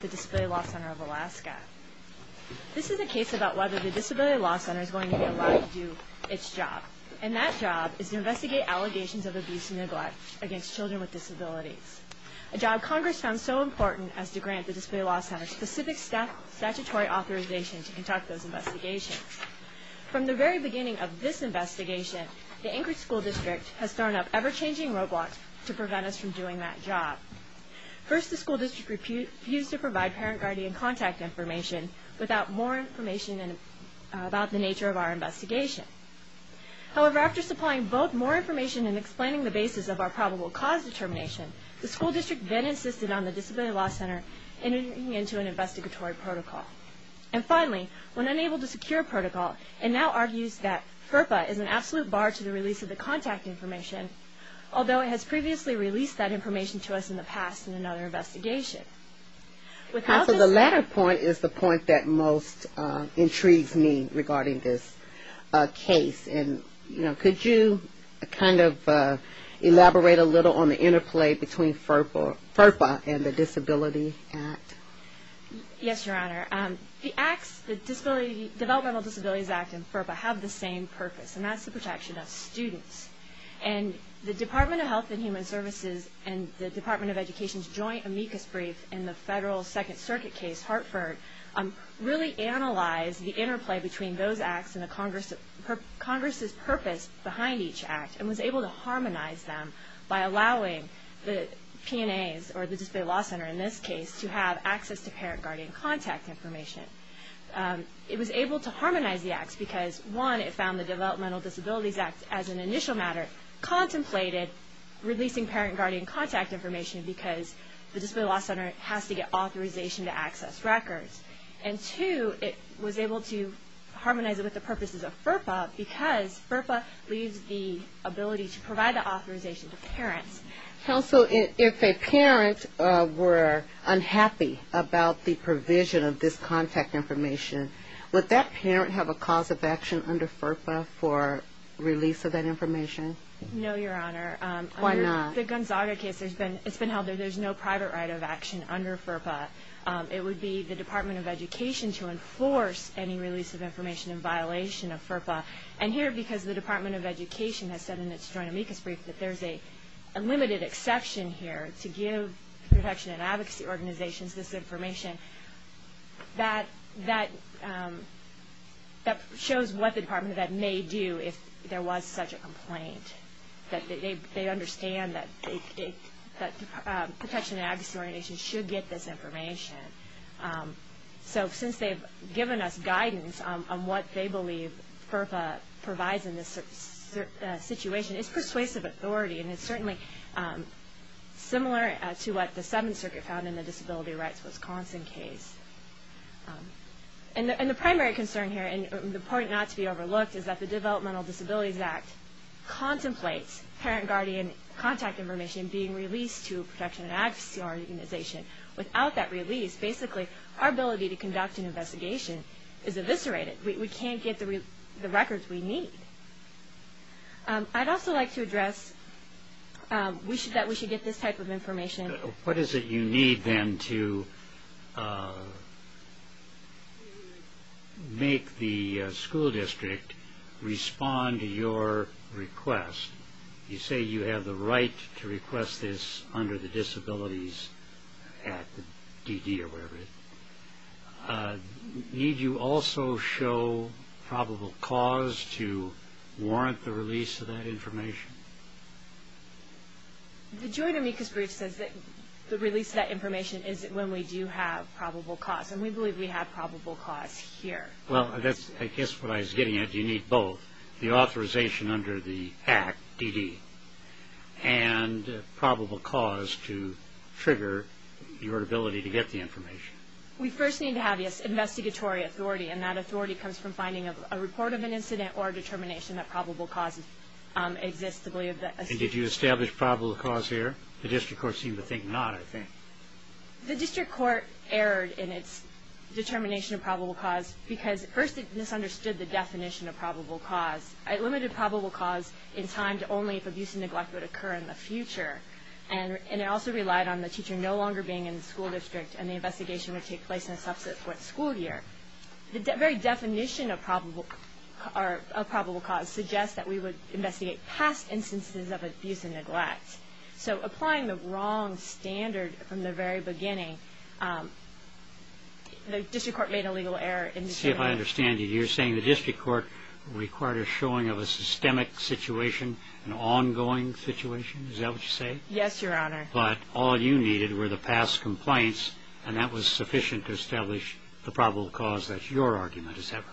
This is a case about whether the Disability Law Center is going to be allowed to do its job. And that job is to investigate allegations of abuse and neglect against children with disabilities. A job Congress found so important as to grant the Disability Law Center specific statutory authorization to conduct those investigations. From the very beginning of this investigation, the Anchorage School District has thrown up ever-changing roadblocks to prevent us from doing that job. First, the School District refused to provide parent-guardian contact information without more information about the nature of our investigation. However, after supplying both more information and explaining the basis of our probable cause determination, the School District then insisted on the Disability Law Center entering into an investigatory protocol. And finally, when unable to secure a protocol, it now argues that FERPA is an absolute bar to the release of the contact information, although it has previously released that information to us in the past in another investigation. So the latter point is the point that most intrigues me regarding this case. Could you elaborate a little on the interplay between FERPA and the Disability Act? Yes, Your Honor. The Developmental Disabilities Act and FERPA have the same purpose, and that's the protection of students. And the Department of Health and Human Services and the Department of Education's joint amicus brief in the Federal Second Circuit case, Hartford, really analyzed the interplay between those acts and Congress's purpose behind each act, and was able to harmonize them by allowing the P&As, or the Disability Law Center in this case, to have access to parent-guardian contact information. It was able to harmonize the acts because, one, it found the Developmental Disabilities Act as an initial matter, contemplated releasing parent-guardian contact information because the Disability Law Center has to get authorization to access records. And two, it was able to harmonize it with the purposes of FERPA because FERPA leaves the ability to provide the authorization to parents. Counsel, if a parent were unhappy about the provision of this contact information, would that parent have a cause of action under FERPA for release of that information? No, Your Honor. Why not? The Gonzaga case, it's been held that there's no private right of action under FERPA. It would be the Department of Education to enforce any release of information in violation of FERPA. And here, because the Department of Education has said in its joint amicus brief that there's a limited exception here to give protection and advocacy organizations this information, that shows what the Department of Ed may do if there was such a complaint, that they understand that protection and advocacy organizations should get this information. So since they've given us guidance on what they believe FERPA provides in this situation, it's persuasive authority and it's certainly similar to what the Seventh Circuit found in the Disability Rights Wisconsin case. And the primary concern here, and the point not to be overlooked, is that the Developmental Disabilities Act contemplates parent-guardian contact information being released to a protection and advocacy organization. Without that release, basically our ability to conduct an investigation is eviscerated. We can't get the records we need. I'd also like to address that we should get this type of information. What is it you need then to make the school district respond to your request? You say you have the right to request this under the Disabilities Act, DD or whatever it is. Need you also show probable cause to warrant the release of that information? The joint amicus brief says that the release of that information is when we do have probable cause, and we believe we have probable cause here. Well, I guess what I was getting at, you need both. The authorization under the Act, DD, and probable cause to trigger your ability to get the information. We first need to have investigatory authority, and that authority comes from finding a report of an incident or determination that probable cause exists. Did you establish probable cause here? The district court seemed to think not, I think. The district court erred in its determination of probable cause because first it misunderstood the definition of probable cause. It limited probable cause in time to only if abuse and neglect would occur in the future, and it also relied on the teacher no longer being in the school district and the investigation would take place in a subset of what school year. The very definition of probable cause suggests that we would investigate past instances of abuse and neglect. So applying the wrong standard from the very beginning, the district court made a legal error in determining... See if I understand you. You're saying the district court required a showing of a systemic situation, an ongoing situation? Is that what you say? Yes, Your Honor. But all you needed were the past complaints, and that was sufficient to establish the probable cause that your argument is having.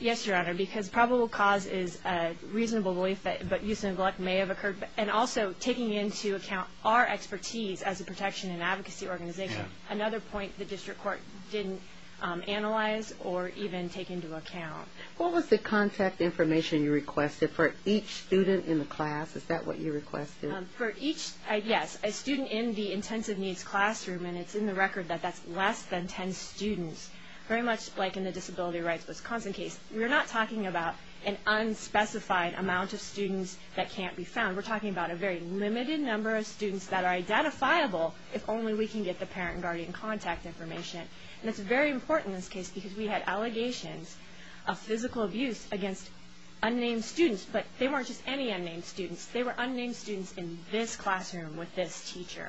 Yes, Your Honor, because probable cause is a reasonable belief that abuse and neglect may have occurred, and also taking into account our expertise as a protection and advocacy organization, another point the district court didn't analyze or even take into account. What was the contact information you requested for each student in the class? Is that what you requested? For each, yes, a student in the intensive needs classroom, and it's in the record that that's less than 10 students, very much like in the disability rights Wisconsin case. We're not talking about an unspecified amount of students that can't be found. We're talking about a very limited number of students that are identifiable if only we can get the parent and guardian contact information. And it's very important in this case because we had allegations of physical abuse against unnamed students, but they weren't just any unnamed students. They were unnamed students in this classroom with this teacher.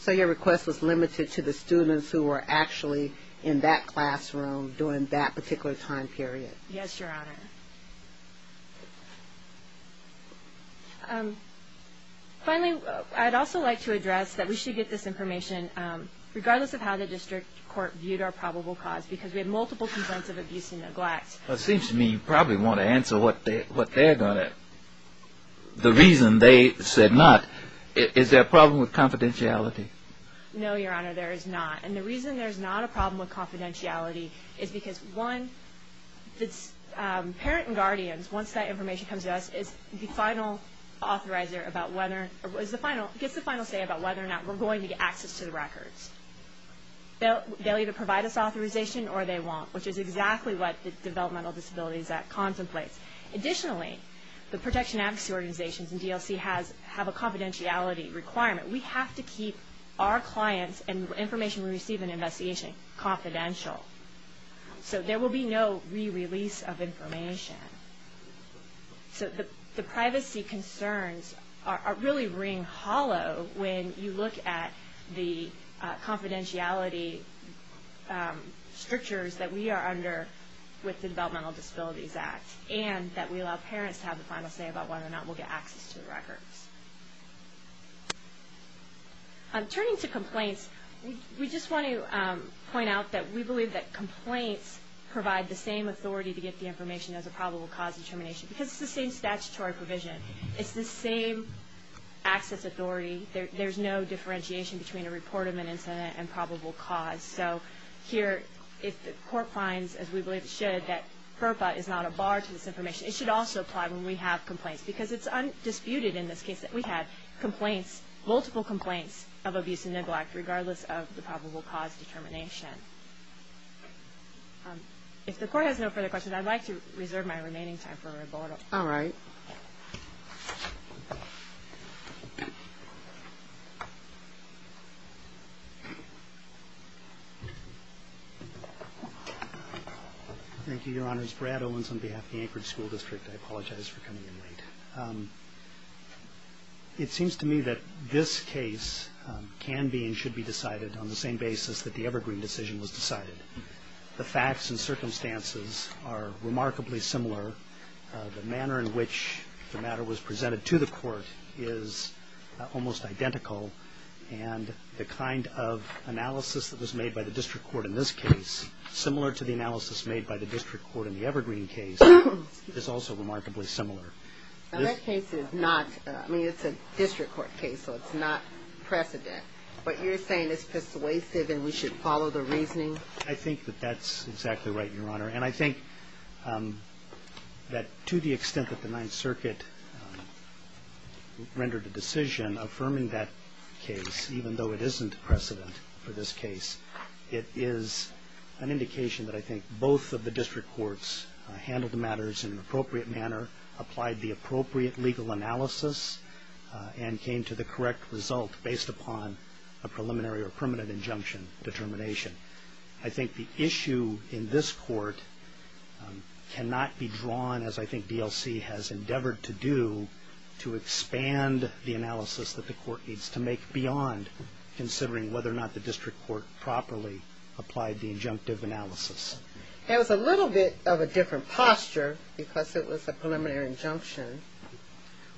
So your request was limited to the students who were actually in that classroom during that particular time period. Yes, Your Honor. Finally, I'd also like to address that we should get this information, regardless of how the district court viewed our probable cause, because we had multiple complaints of abuse and neglect. It seems to me you probably want to answer what they're going to. The reason they said not, is there a problem with confidentiality? No, Your Honor, there is not. And the reason there's not a problem with confidentiality is because, one, parent and guardians, once that information comes to us, gets the final say about whether or not we're going to get access to the records. They'll either provide us authorization or they won't, which is exactly what the Developmental Disabilities Act contemplates. Additionally, the protection advocacy organizations and DLC have a confidentiality requirement. We have to keep our clients and information we receive in an investigation confidential. So there will be no re-release of information. So the privacy concerns really ring hollow when you look at the confidentiality strictures that we are under with the Developmental Disabilities Act, and that we allow parents to have the final say about whether or not we'll get access to the records. Turning to complaints, we just want to point out that we believe that complaints provide the same authority to get the information as a probable cause determination, because it's the same statutory provision. It's the same access authority. There's no differentiation between a reported incident and probable cause. So here, if the court finds, as we believe it should, that FERPA is not a bar to this information, it should also apply when we have complaints, because it's undisputed in this case that we had complaints, multiple complaints of abuse and neglect regardless of the probable cause determination. If the court has no further questions, I'd like to reserve my remaining time for a rebuttal. All right. Thank you, Your Honors. Brad Owens on behalf of the Anchorage School District. I apologize for coming in late. It seems to me that this case can be and should be decided on the same basis that the Evergreen decision was decided. The facts and circumstances are remarkably similar. The manner in which the matter was presented to the court is almost identical, and the kind of analysis that was made by the district court in this case, similar to the analysis made by the district court in the Evergreen case, is also remarkably similar. Now, that case is not, I mean, it's a district court case, so it's not precedent. But you're saying it's persuasive and we should follow the reasoning? I think that that's exactly right, Your Honor. And I think that to the extent that the Ninth Circuit rendered a decision affirming that case, even though it isn't precedent for this case, it is an indication that I think both of the district courts handled the matters in an appropriate manner, applied the appropriate legal analysis, and came to the correct result based upon a preliminary or permanent injunction determination. I think the issue in this court cannot be drawn, as I think DLC has endeavored to do, to expand the analysis that the court needs to make beyond considering whether or not the district court properly applied the injunctive analysis. It was a little bit of a different posture because it was a preliminary injunction.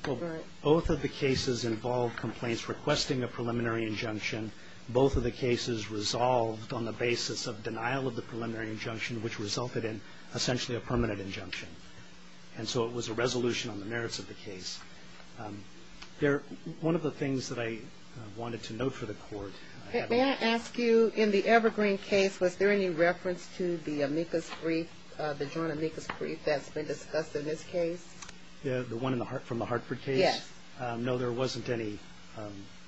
Well, both of the cases involved complaints requesting a preliminary injunction. Both of the cases resolved on the basis of denial of the preliminary injunction, which resulted in essentially a permanent injunction. And so it was a resolution on the merits of the case. They're one of the things that I wanted to note for the court. May I ask you, in the Evergreen case, was there any reference to the amicus brief, the joint amicus brief that's been discussed in this case? The one from the Hartford case? Yes. No, there wasn't any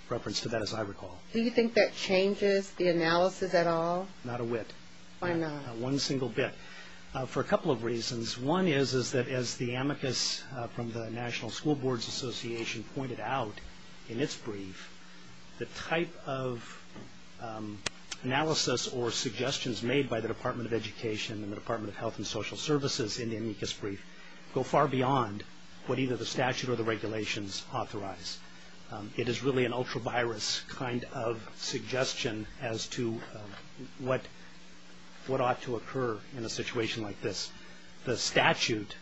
reference to that, as I recall. Do you think that changes the analysis at all? Not a whit. Why not? Not one single bit. For a couple of reasons. One is that, as the amicus from the National School Boards Association pointed out in its brief, the type of analysis or suggestions made by the Department of Education and the Department of Health and Social Services in the amicus brief go far beyond what either the statute or the regulations authorize. It is really an ultra-virus kind of suggestion as to what ought to occur in a situation like this. The statute,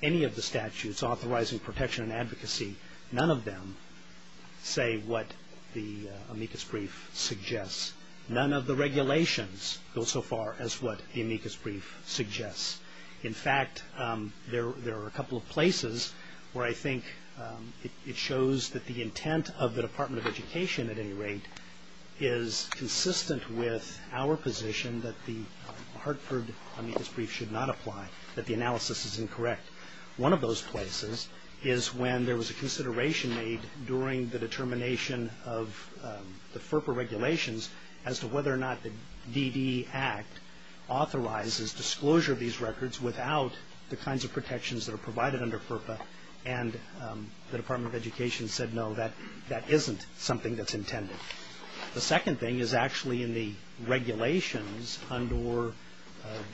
any of the statutes authorizing protection and advocacy, none of them say what the amicus brief suggests. None of the regulations go so far as what the amicus brief suggests. In fact, there are a couple of places where I think it shows that the intent of the Department of Education, at any rate, is consistent with our position that the Hartford amicus brief should not apply, that the analysis is incorrect. One of those places is when there was a consideration made during the determination of the FERPA regulations as to whether or not the DD Act authorizes disclosure of these records without the kinds of protections that are provided under FERPA, and the Department of Education said no, that isn't something that's intended. The second thing is actually in the regulations under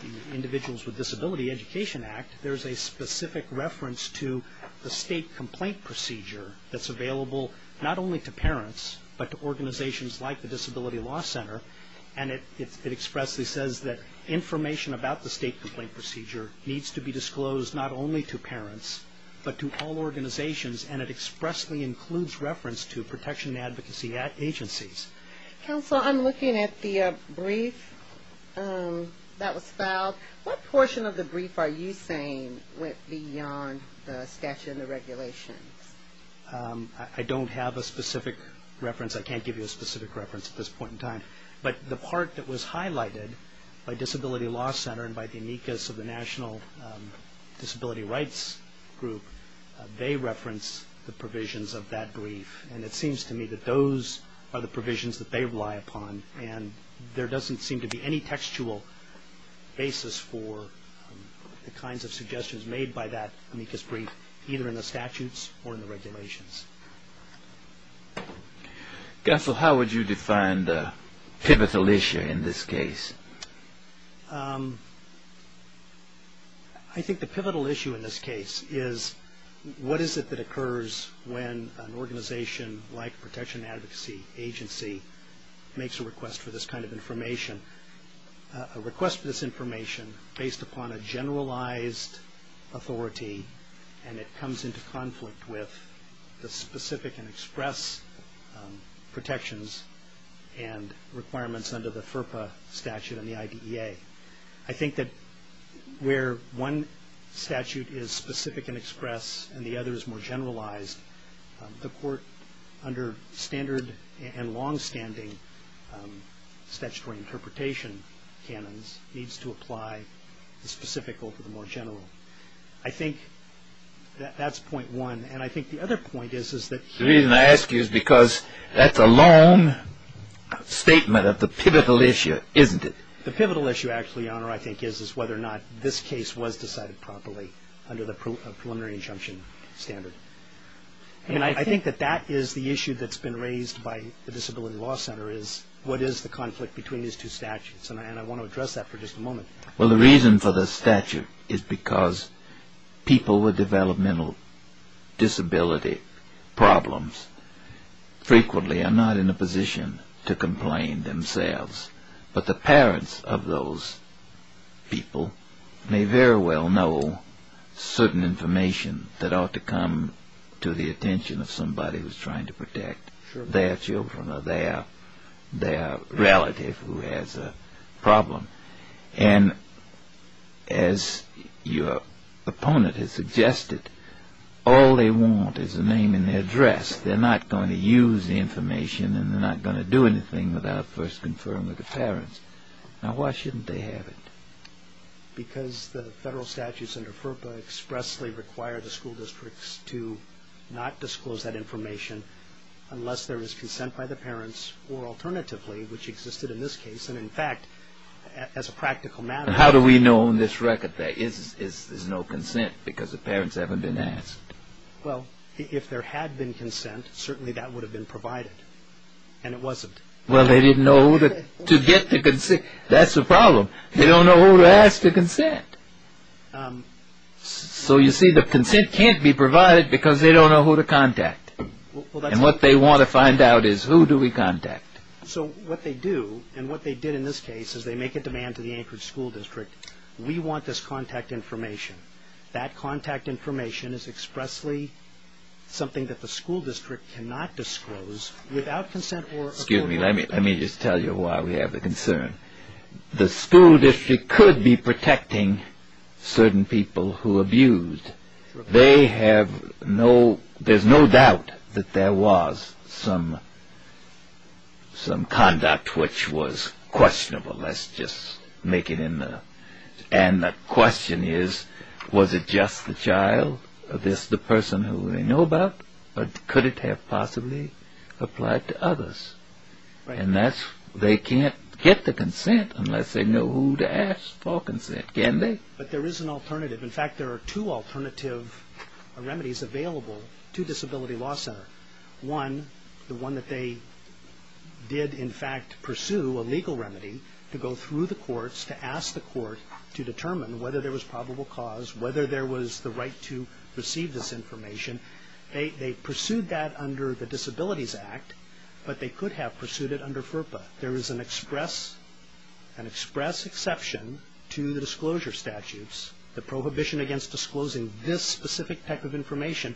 the Individuals with Disability Education Act, there's a specific reference to the state complaint procedure that's available not only to parents, but to organizations like the Disability Law Center, and it expressly says that information about the state complaint procedure needs to be disclosed not only to parents, but to all organizations, and it expressly includes reference to protection and advocacy agencies. Counsel, I'm looking at the brief that was filed. What portion of the brief are you saying went beyond the statute and the regulations? I don't have a specific reference. I can't give you a specific reference at this point in time, but the part that was highlighted by Disability Law Center and by the amicus of the National Disability Rights Group, they reference the provisions of that brief, and it seems to me that those are the provisions that they rely upon, and there doesn't seem to be any textual basis for the kinds of suggestions made by that amicus brief, either in the statutes or in the regulations. Counsel, how would you define the pivotal issue in this case? I think the pivotal issue in this case is, what is it that occurs when an organization like protection and advocacy agency makes a request for this kind of information, a request for this information based upon a generalized authority, and it comes into conflict with the specific and express protections and requirements under the FERPA statute and the IDEA? I think that where one statute is specific and express and the other is more generalized, the court, under standard and longstanding statutory interpretation canons, needs to apply the specific over the more general. I think that that's point one, and I think the other point is that he The reason I ask you is because that's a long statement of the pivotal issue, isn't it? The pivotal issue, Your Honor, I think is whether or not this case was decided properly under the preliminary injunction standard. And I think that that is the issue that's been raised by the Disability Law Center is, what is the conflict between these two statutes? And I want to address that for just a moment. Well, the reason for the statute is because people with developmental disability problems frequently are not in a position to complain themselves. But the parents of those people may very well know certain information that ought to come to the attention of somebody who's trying to protect their children or their relative who has a problem. And as your opponent has suggested, all they want is a name and their address. They're not going to use the information, and they're not going to do anything without first confirming with the parents. Now, why shouldn't they have it? Because the federal statutes under FERPA expressly require the school districts to not disclose that information unless there is consent by the parents, or alternatively, which existed in this case, and in fact, as a practical matter. How do we know on this record there is no consent because the parents haven't been asked? Well, if there had been consent, certainly that would have been provided. And it wasn't. Well, they didn't know to get the consent. That's the problem. They don't know who to ask to consent. So you see, the consent can't be provided because they don't know who to contact. And what they want to find out is who do we contact. So what they do, and what they did in this case, is they make a demand to the Anchorage School District. We want this contact information. That contact information is expressly something that the school district cannot disclose without consent. Excuse me. Let me just tell you why we have the concern. The school district could be protecting certain people who abused. They have no, there's no doubt that there was some conduct which was questionable. Let's just make it in the, and the question is, was it just the child? Is this the person who they know about? Or could it have possibly applied to others? And that's, they can't get the consent unless they know who to ask for consent. Can they? But there is an alternative. In fact, there are two alternative remedies available to Disability Law Center. One, the one that they did in fact pursue, a legal remedy, to go through the courts to ask the court to determine whether there was probable cause, whether there was the right to receive this information. They pursued that under the Disabilities Act, but they could have pursued it under FERPA. There is an express exception to the disclosure statutes, the prohibition against disclosing this specific type of information,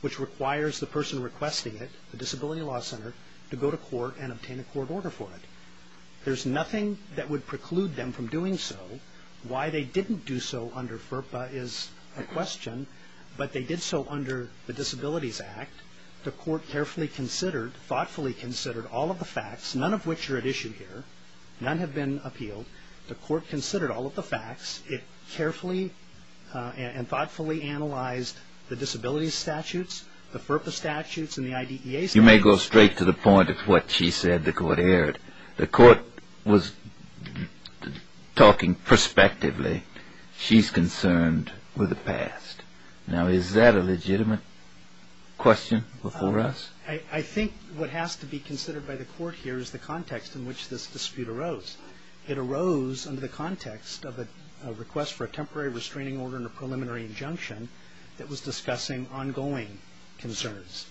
which requires the person requesting it, the Disability Law Center, to go to court and obtain a court order for it. There's nothing that would preclude them from doing so. Why they didn't do so under FERPA is a question, but they did so under the Disabilities Act. The court carefully considered, thoughtfully considered all of the facts, none of which are at issue here, none have been appealed. The court considered all of the facts. It carefully and thoughtfully analyzed the disabilities statutes, the FERPA statutes, and the IDEA statutes. You may go straight to the point of what she said the court heard. The court was talking prospectively. She's concerned with the past. Now, is that a legitimate question before us? I think what has to be considered by the court here is the context in which this dispute arose. It arose under the context of a request for a temporary restraining order and a preliminary injunction that was discussing ongoing concerns.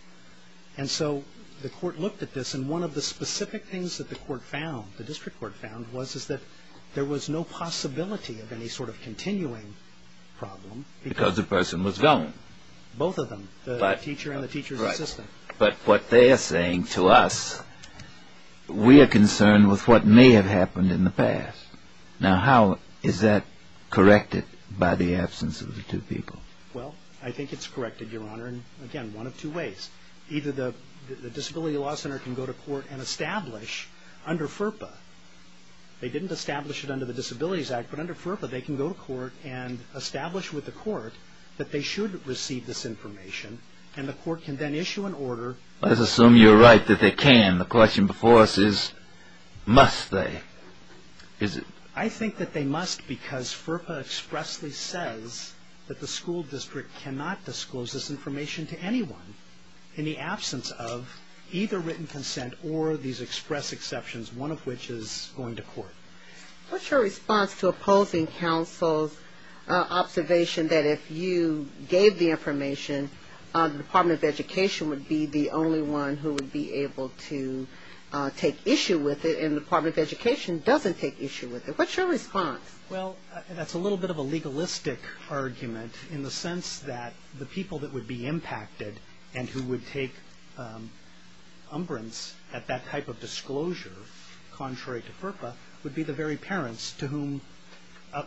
And so the court looked at this, and one of the specific things that the court found, the district court found, was that there was no possibility of any sort of continuing problem. Because the person was gone. Both of them, the teacher and the teacher's assistant. Right. But what they're saying to us, we are concerned with what may have happened in the past. Now, how is that corrected by the absence of the two people? Well, I think it's corrected, Your Honor, in, again, one of two ways. Either the Disability Law Center can go to court and establish under FERPA, they didn't establish it under the Disabilities Act, but under FERPA they can go to court and establish with the court that they should receive this information, and the court can then issue an order. Let's assume you're right that they can. The question before us is, must they? I think that they must because FERPA expressly says that the school district cannot disclose this information to anyone in the absence of either written consent or these express exceptions, one of which is going to court. What's your response to opposing counsel's observation that if you gave the information, the Department of Education would be the only one who would be able to take issue with it and the Department of Education doesn't take issue with it? What's your response? Well, that's a little bit of a legalistic argument in the sense that the people that would be impacted and who would take umbrage at that type of disclosure contrary to FERPA would be the very parents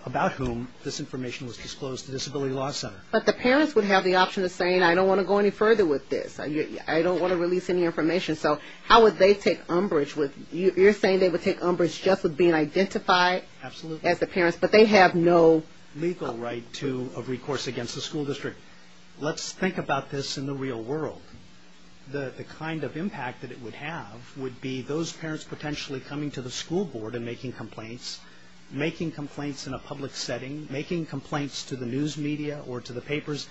about whom this information was disclosed to the Disability Law Center. But the parents would have the option of saying, I don't want to go any further with this. I don't want to release any information. So how would they take umbrage? You're saying they would take umbrage just with being identified as the parents, but they have no legal right of recourse against the school district. Let's think about this in the real world. The kind of impact that it would have would be those parents potentially coming to the school board and making complaints, making complaints in a public setting, making complaints to the news media or to the papers.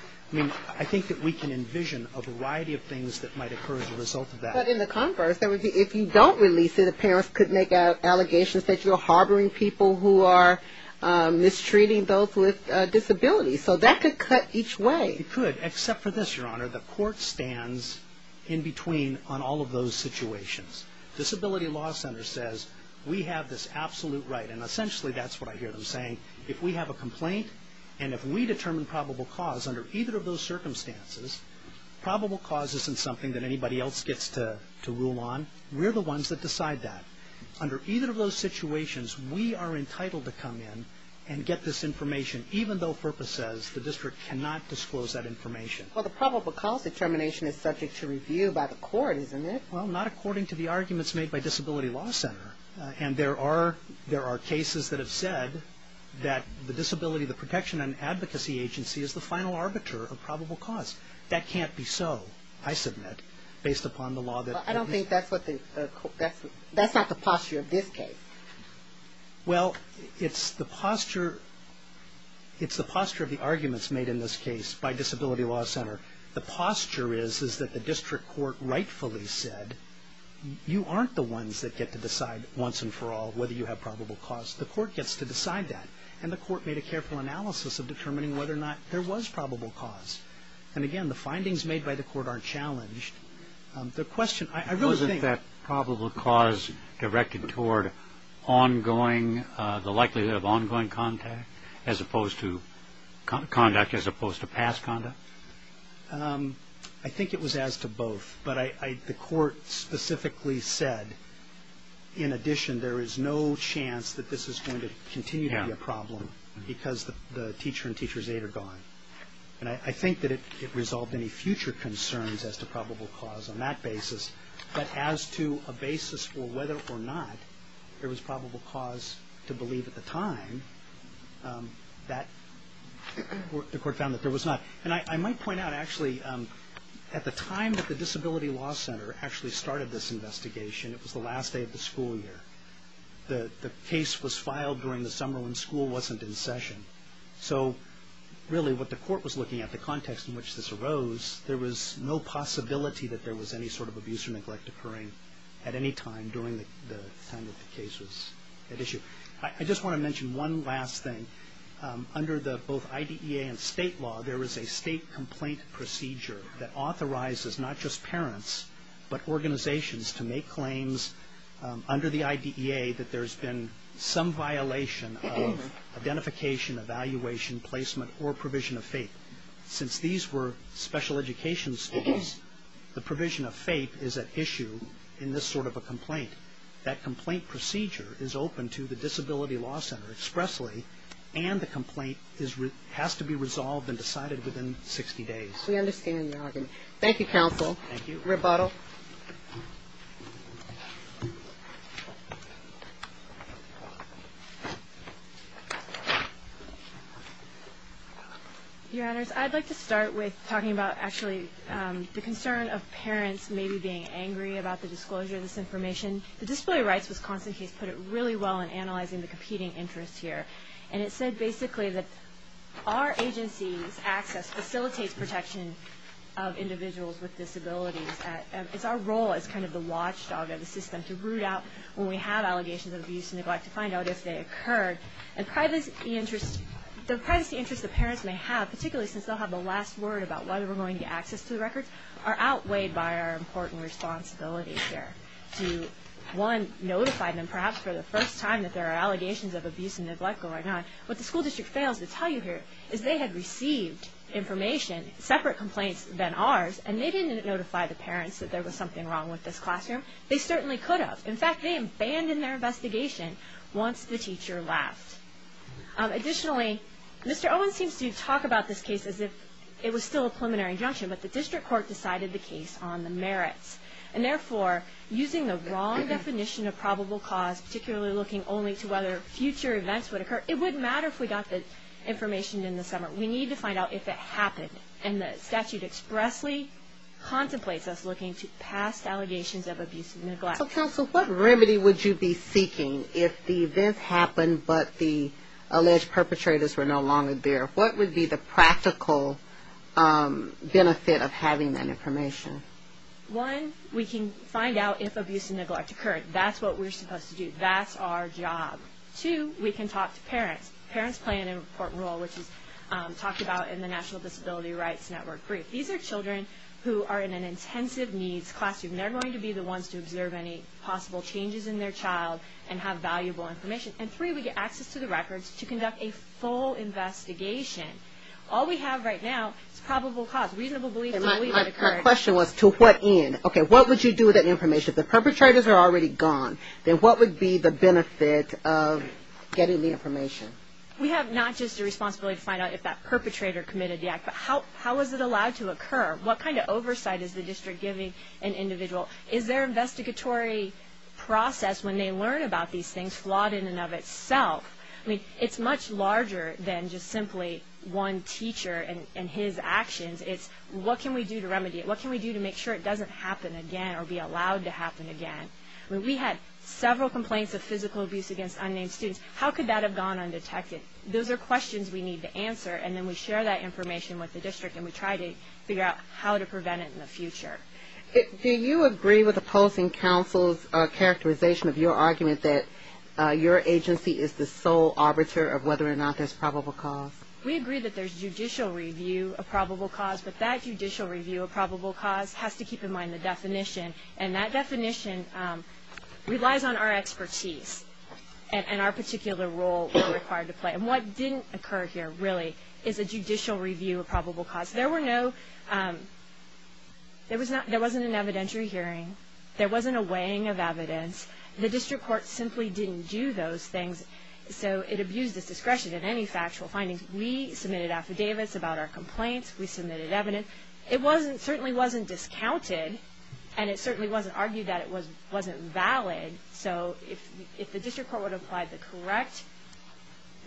I think that we can envision a variety of things that might occur as a result of that. But in the converse, if you don't release it, the parents could make allegations that you're harboring people who are mistreating those with disabilities. So that could cut each way. It could, except for this, Your Honor. The court stands in between on all of those situations. Disability Law Center says we have this absolute right, and essentially that's what I hear them saying. If we have a complaint and if we determine probable cause under either of those circumstances, probable cause isn't something that anybody else gets to rule on. We're the ones that decide that. Under either of those situations, we are entitled to come in and get this information, even though FERPA says the district cannot disclose that information. Well, the probable cause determination is subject to review by the court, isn't it? Well, not according to the arguments made by Disability Law Center. And there are cases that have said that the Disability Protection and Advocacy Agency is the final arbiter of probable cause. That can't be so, I submit, based upon the law that is passed. Well, I don't think that's not the posture of this case. Well, it's the posture of the arguments made in this case by Disability Law Center. The posture is that the district court rightfully said, you aren't the ones that get to decide once and for all whether you have probable cause. The court gets to decide that. And the court made a careful analysis of determining whether or not there was probable cause. And again, the findings made by the court are challenged. The question, I really think- Wasn't that probable cause directed toward ongoing, the likelihood of ongoing contact as opposed to conduct as opposed to past conduct? I think it was as to both. But the court specifically said, in addition, there is no chance that this is going to continue to be a problem because the teacher and teacher's aide are gone. And I think that it resolved any future concerns as to probable cause on that basis. But as to a basis for whether or not there was probable cause to believe at the time, the court found that there was not. And I might point out, actually, at the time that the Disability Law Center actually started this investigation, it was the last day of the school year. The case was filed during the summer when school wasn't in session. So really what the court was looking at, the context in which this arose, there was no possibility that there was any sort of abuse or neglect occurring at any time during the time that the case was at issue. I just want to mention one last thing. Under both IDEA and state law, there is a state complaint procedure that authorizes not just parents but organizations to make claims under the IDEA that there's been some violation of identification, evaluation, placement, or provision of faith. Since these were special education schools, the provision of faith is at issue in this sort of a complaint. That complaint procedure is open to the Disability Law Center expressly and the complaint has to be resolved and decided within 60 days. We understand your argument. Thank you, counsel. Thank you. Rebuttal. Your Honors, I'd like to start with talking about actually the concern of parents maybe being angry about the disclosure of this information. The Disability Rights Wisconsin case put it really well in analyzing the competing interests here. It said basically that our agency's access facilitates protection of individuals with disabilities. It's our role as kind of the watchdog of the system to root out when we have allegations of abuse and neglect to find out if they occurred. The privacy interests that parents may have, particularly since they'll have the last word about whether we're going to get access to the records, are outweighed by our important responsibilities here One, notified them perhaps for the first time that there are allegations of abuse and neglect going on. What the school district fails to tell you here is they had received information, separate complaints than ours, and they didn't notify the parents that there was something wrong with this classroom. They certainly could have. In fact, they abandoned their investigation once the teacher left. Additionally, Mr. Owen seems to talk about this case as if it was still a preliminary injunction, but the district court decided the case on the merits and therefore using the wrong definition of probable cause, particularly looking only to whether future events would occur, it wouldn't matter if we got the information in the summer. We need to find out if it happened, and the statute expressly contemplates us looking to past allegations of abuse and neglect. So, counsel, what remedy would you be seeking if the events happened but the alleged perpetrators were no longer there? What would be the practical benefit of having that information? One, we can find out if abuse and neglect occurred. That's what we're supposed to do. That's our job. Two, we can talk to parents. Parents play an important role, which is talked about in the National Disability Rights Network brief. These are children who are in an intensive needs classroom. They're going to be the ones to observe any possible changes in their child and have valuable information. And three, we get access to the records to conduct a full investigation. All we have right now is probable cause, reasonable belief that it occurred. My question was, to what end? Okay, what would you do with that information? If the perpetrators are already gone, then what would be the benefit of getting the information? We have not just a responsibility to find out if that perpetrator committed the act, but how was it allowed to occur? What kind of oversight is the district giving an individual? Is there an investigatory process when they learn about these things, flawed in and of itself? I mean, it's much larger than just simply one teacher and his actions. It's what can we do to remedy it? What can we do to make sure it doesn't happen again or be allowed to happen again? We had several complaints of physical abuse against unnamed students. How could that have gone undetected? Those are questions we need to answer, and then we share that information with the district and we try to figure out how to prevent it in the future. Do you agree with opposing counsel's characterization of your argument that your agency is the sole arbiter of whether or not there's probable cause? We agree that there's judicial review of probable cause, but that judicial review of probable cause has to keep in mind the definition, and that definition relies on our expertise and our particular role we're required to play. And what didn't occur here, really, is a judicial review of probable cause. There were no – there wasn't an evidentiary hearing. There wasn't a weighing of evidence. The district court simply didn't do those things, so it abused its discretion in any factual findings. We submitted affidavits about our complaints. We submitted evidence. It certainly wasn't discounted, and it certainly wasn't argued that it wasn't valid. So if the district court would have applied the correct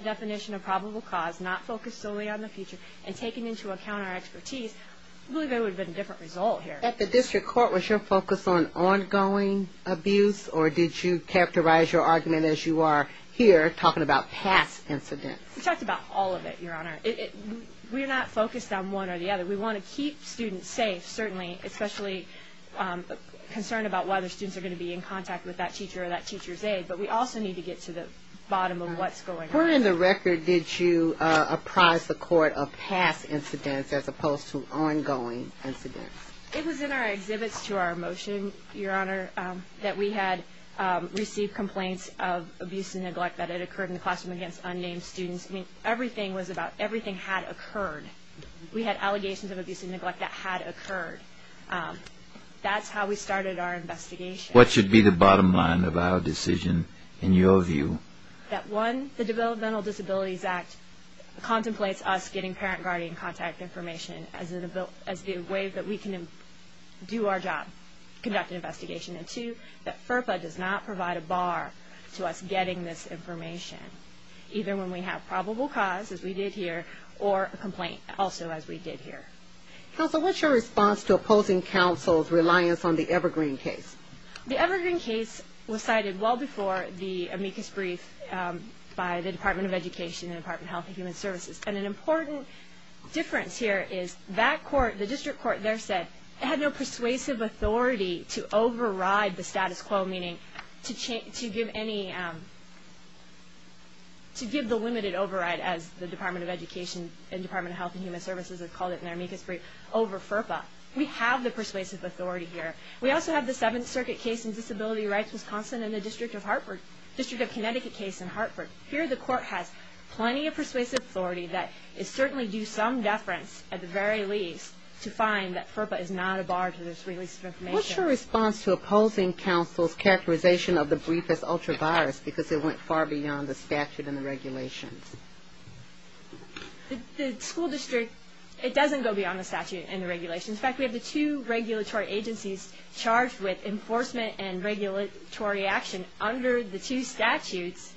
definition of probable cause, not focused solely on the future, and taken into account our expertise, I believe there would have been a different result here. At the district court, was your focus on ongoing abuse, or did you characterize your argument as you are here talking about past incidents? We talked about all of it, Your Honor. We're not focused on one or the other. We want to keep students safe, certainly, especially concerned about whether students are going to be in contact with that teacher or that teacher's aide, but we also need to get to the bottom of what's going on. Where in the record did you apprise the court of past incidents as opposed to ongoing incidents? It was in our exhibits to our motion, Your Honor, that we had received complaints of abuse and neglect that had occurred in the classroom against unnamed students. I mean, everything was about everything had occurred. We had allegations of abuse and neglect that had occurred. That's how we started our investigation. What should be the bottom line of our decision, in your view? That, one, the Developmental Disabilities Act contemplates us getting parent-guardian contact information as the way that we can do our job, conduct an investigation, and, two, that FERPA does not provide a bar to us getting this information, either when we have probable cause, as we did here, or a complaint, also as we did here. Counsel, what's your response to opposing counsel's reliance on the Evergreen case? The Evergreen case was cited well before the amicus brief by the Department of Education and the Department of Health and Human Services. And an important difference here is that court, the district court there, said it had no persuasive authority to override the status quo, meaning to give the limited override, as the Department of Education and Department of Health and Human Services have called it in their amicus brief, over FERPA. We have the persuasive authority here. We also have the Seventh Circuit case in Disability Rights, Wisconsin, and the District of Connecticut case in Hartford. Here, the court has plenty of persuasive authority that is certainly due some deference, at the very least, to find that FERPA is not a bar to this release of information. What's your response to opposing counsel's characterization of the brief as ultra-virus, because it went far beyond the statute and the regulations? The school district, it doesn't go beyond the statute and the regulations. In fact, we have the two regulatory agencies charged with enforcement and regulatory action under the two statutes,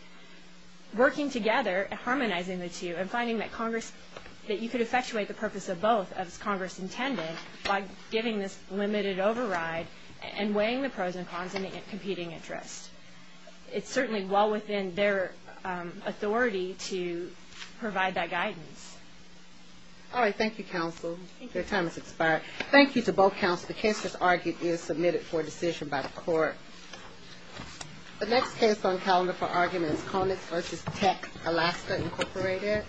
working together, harmonizing the two, and finding that you could effectuate the purpose of both, as Congress intended, by giving this limited override and weighing the pros and cons and the competing interests. It's certainly well within their authority to provide that guidance. All right. Thank you, counsel. Your time has expired. Thank you to both counsels. The case that's argued is submitted for decision by the court. The next case on calendar for argument is Conix v. Tech, Alaska, Incorporated.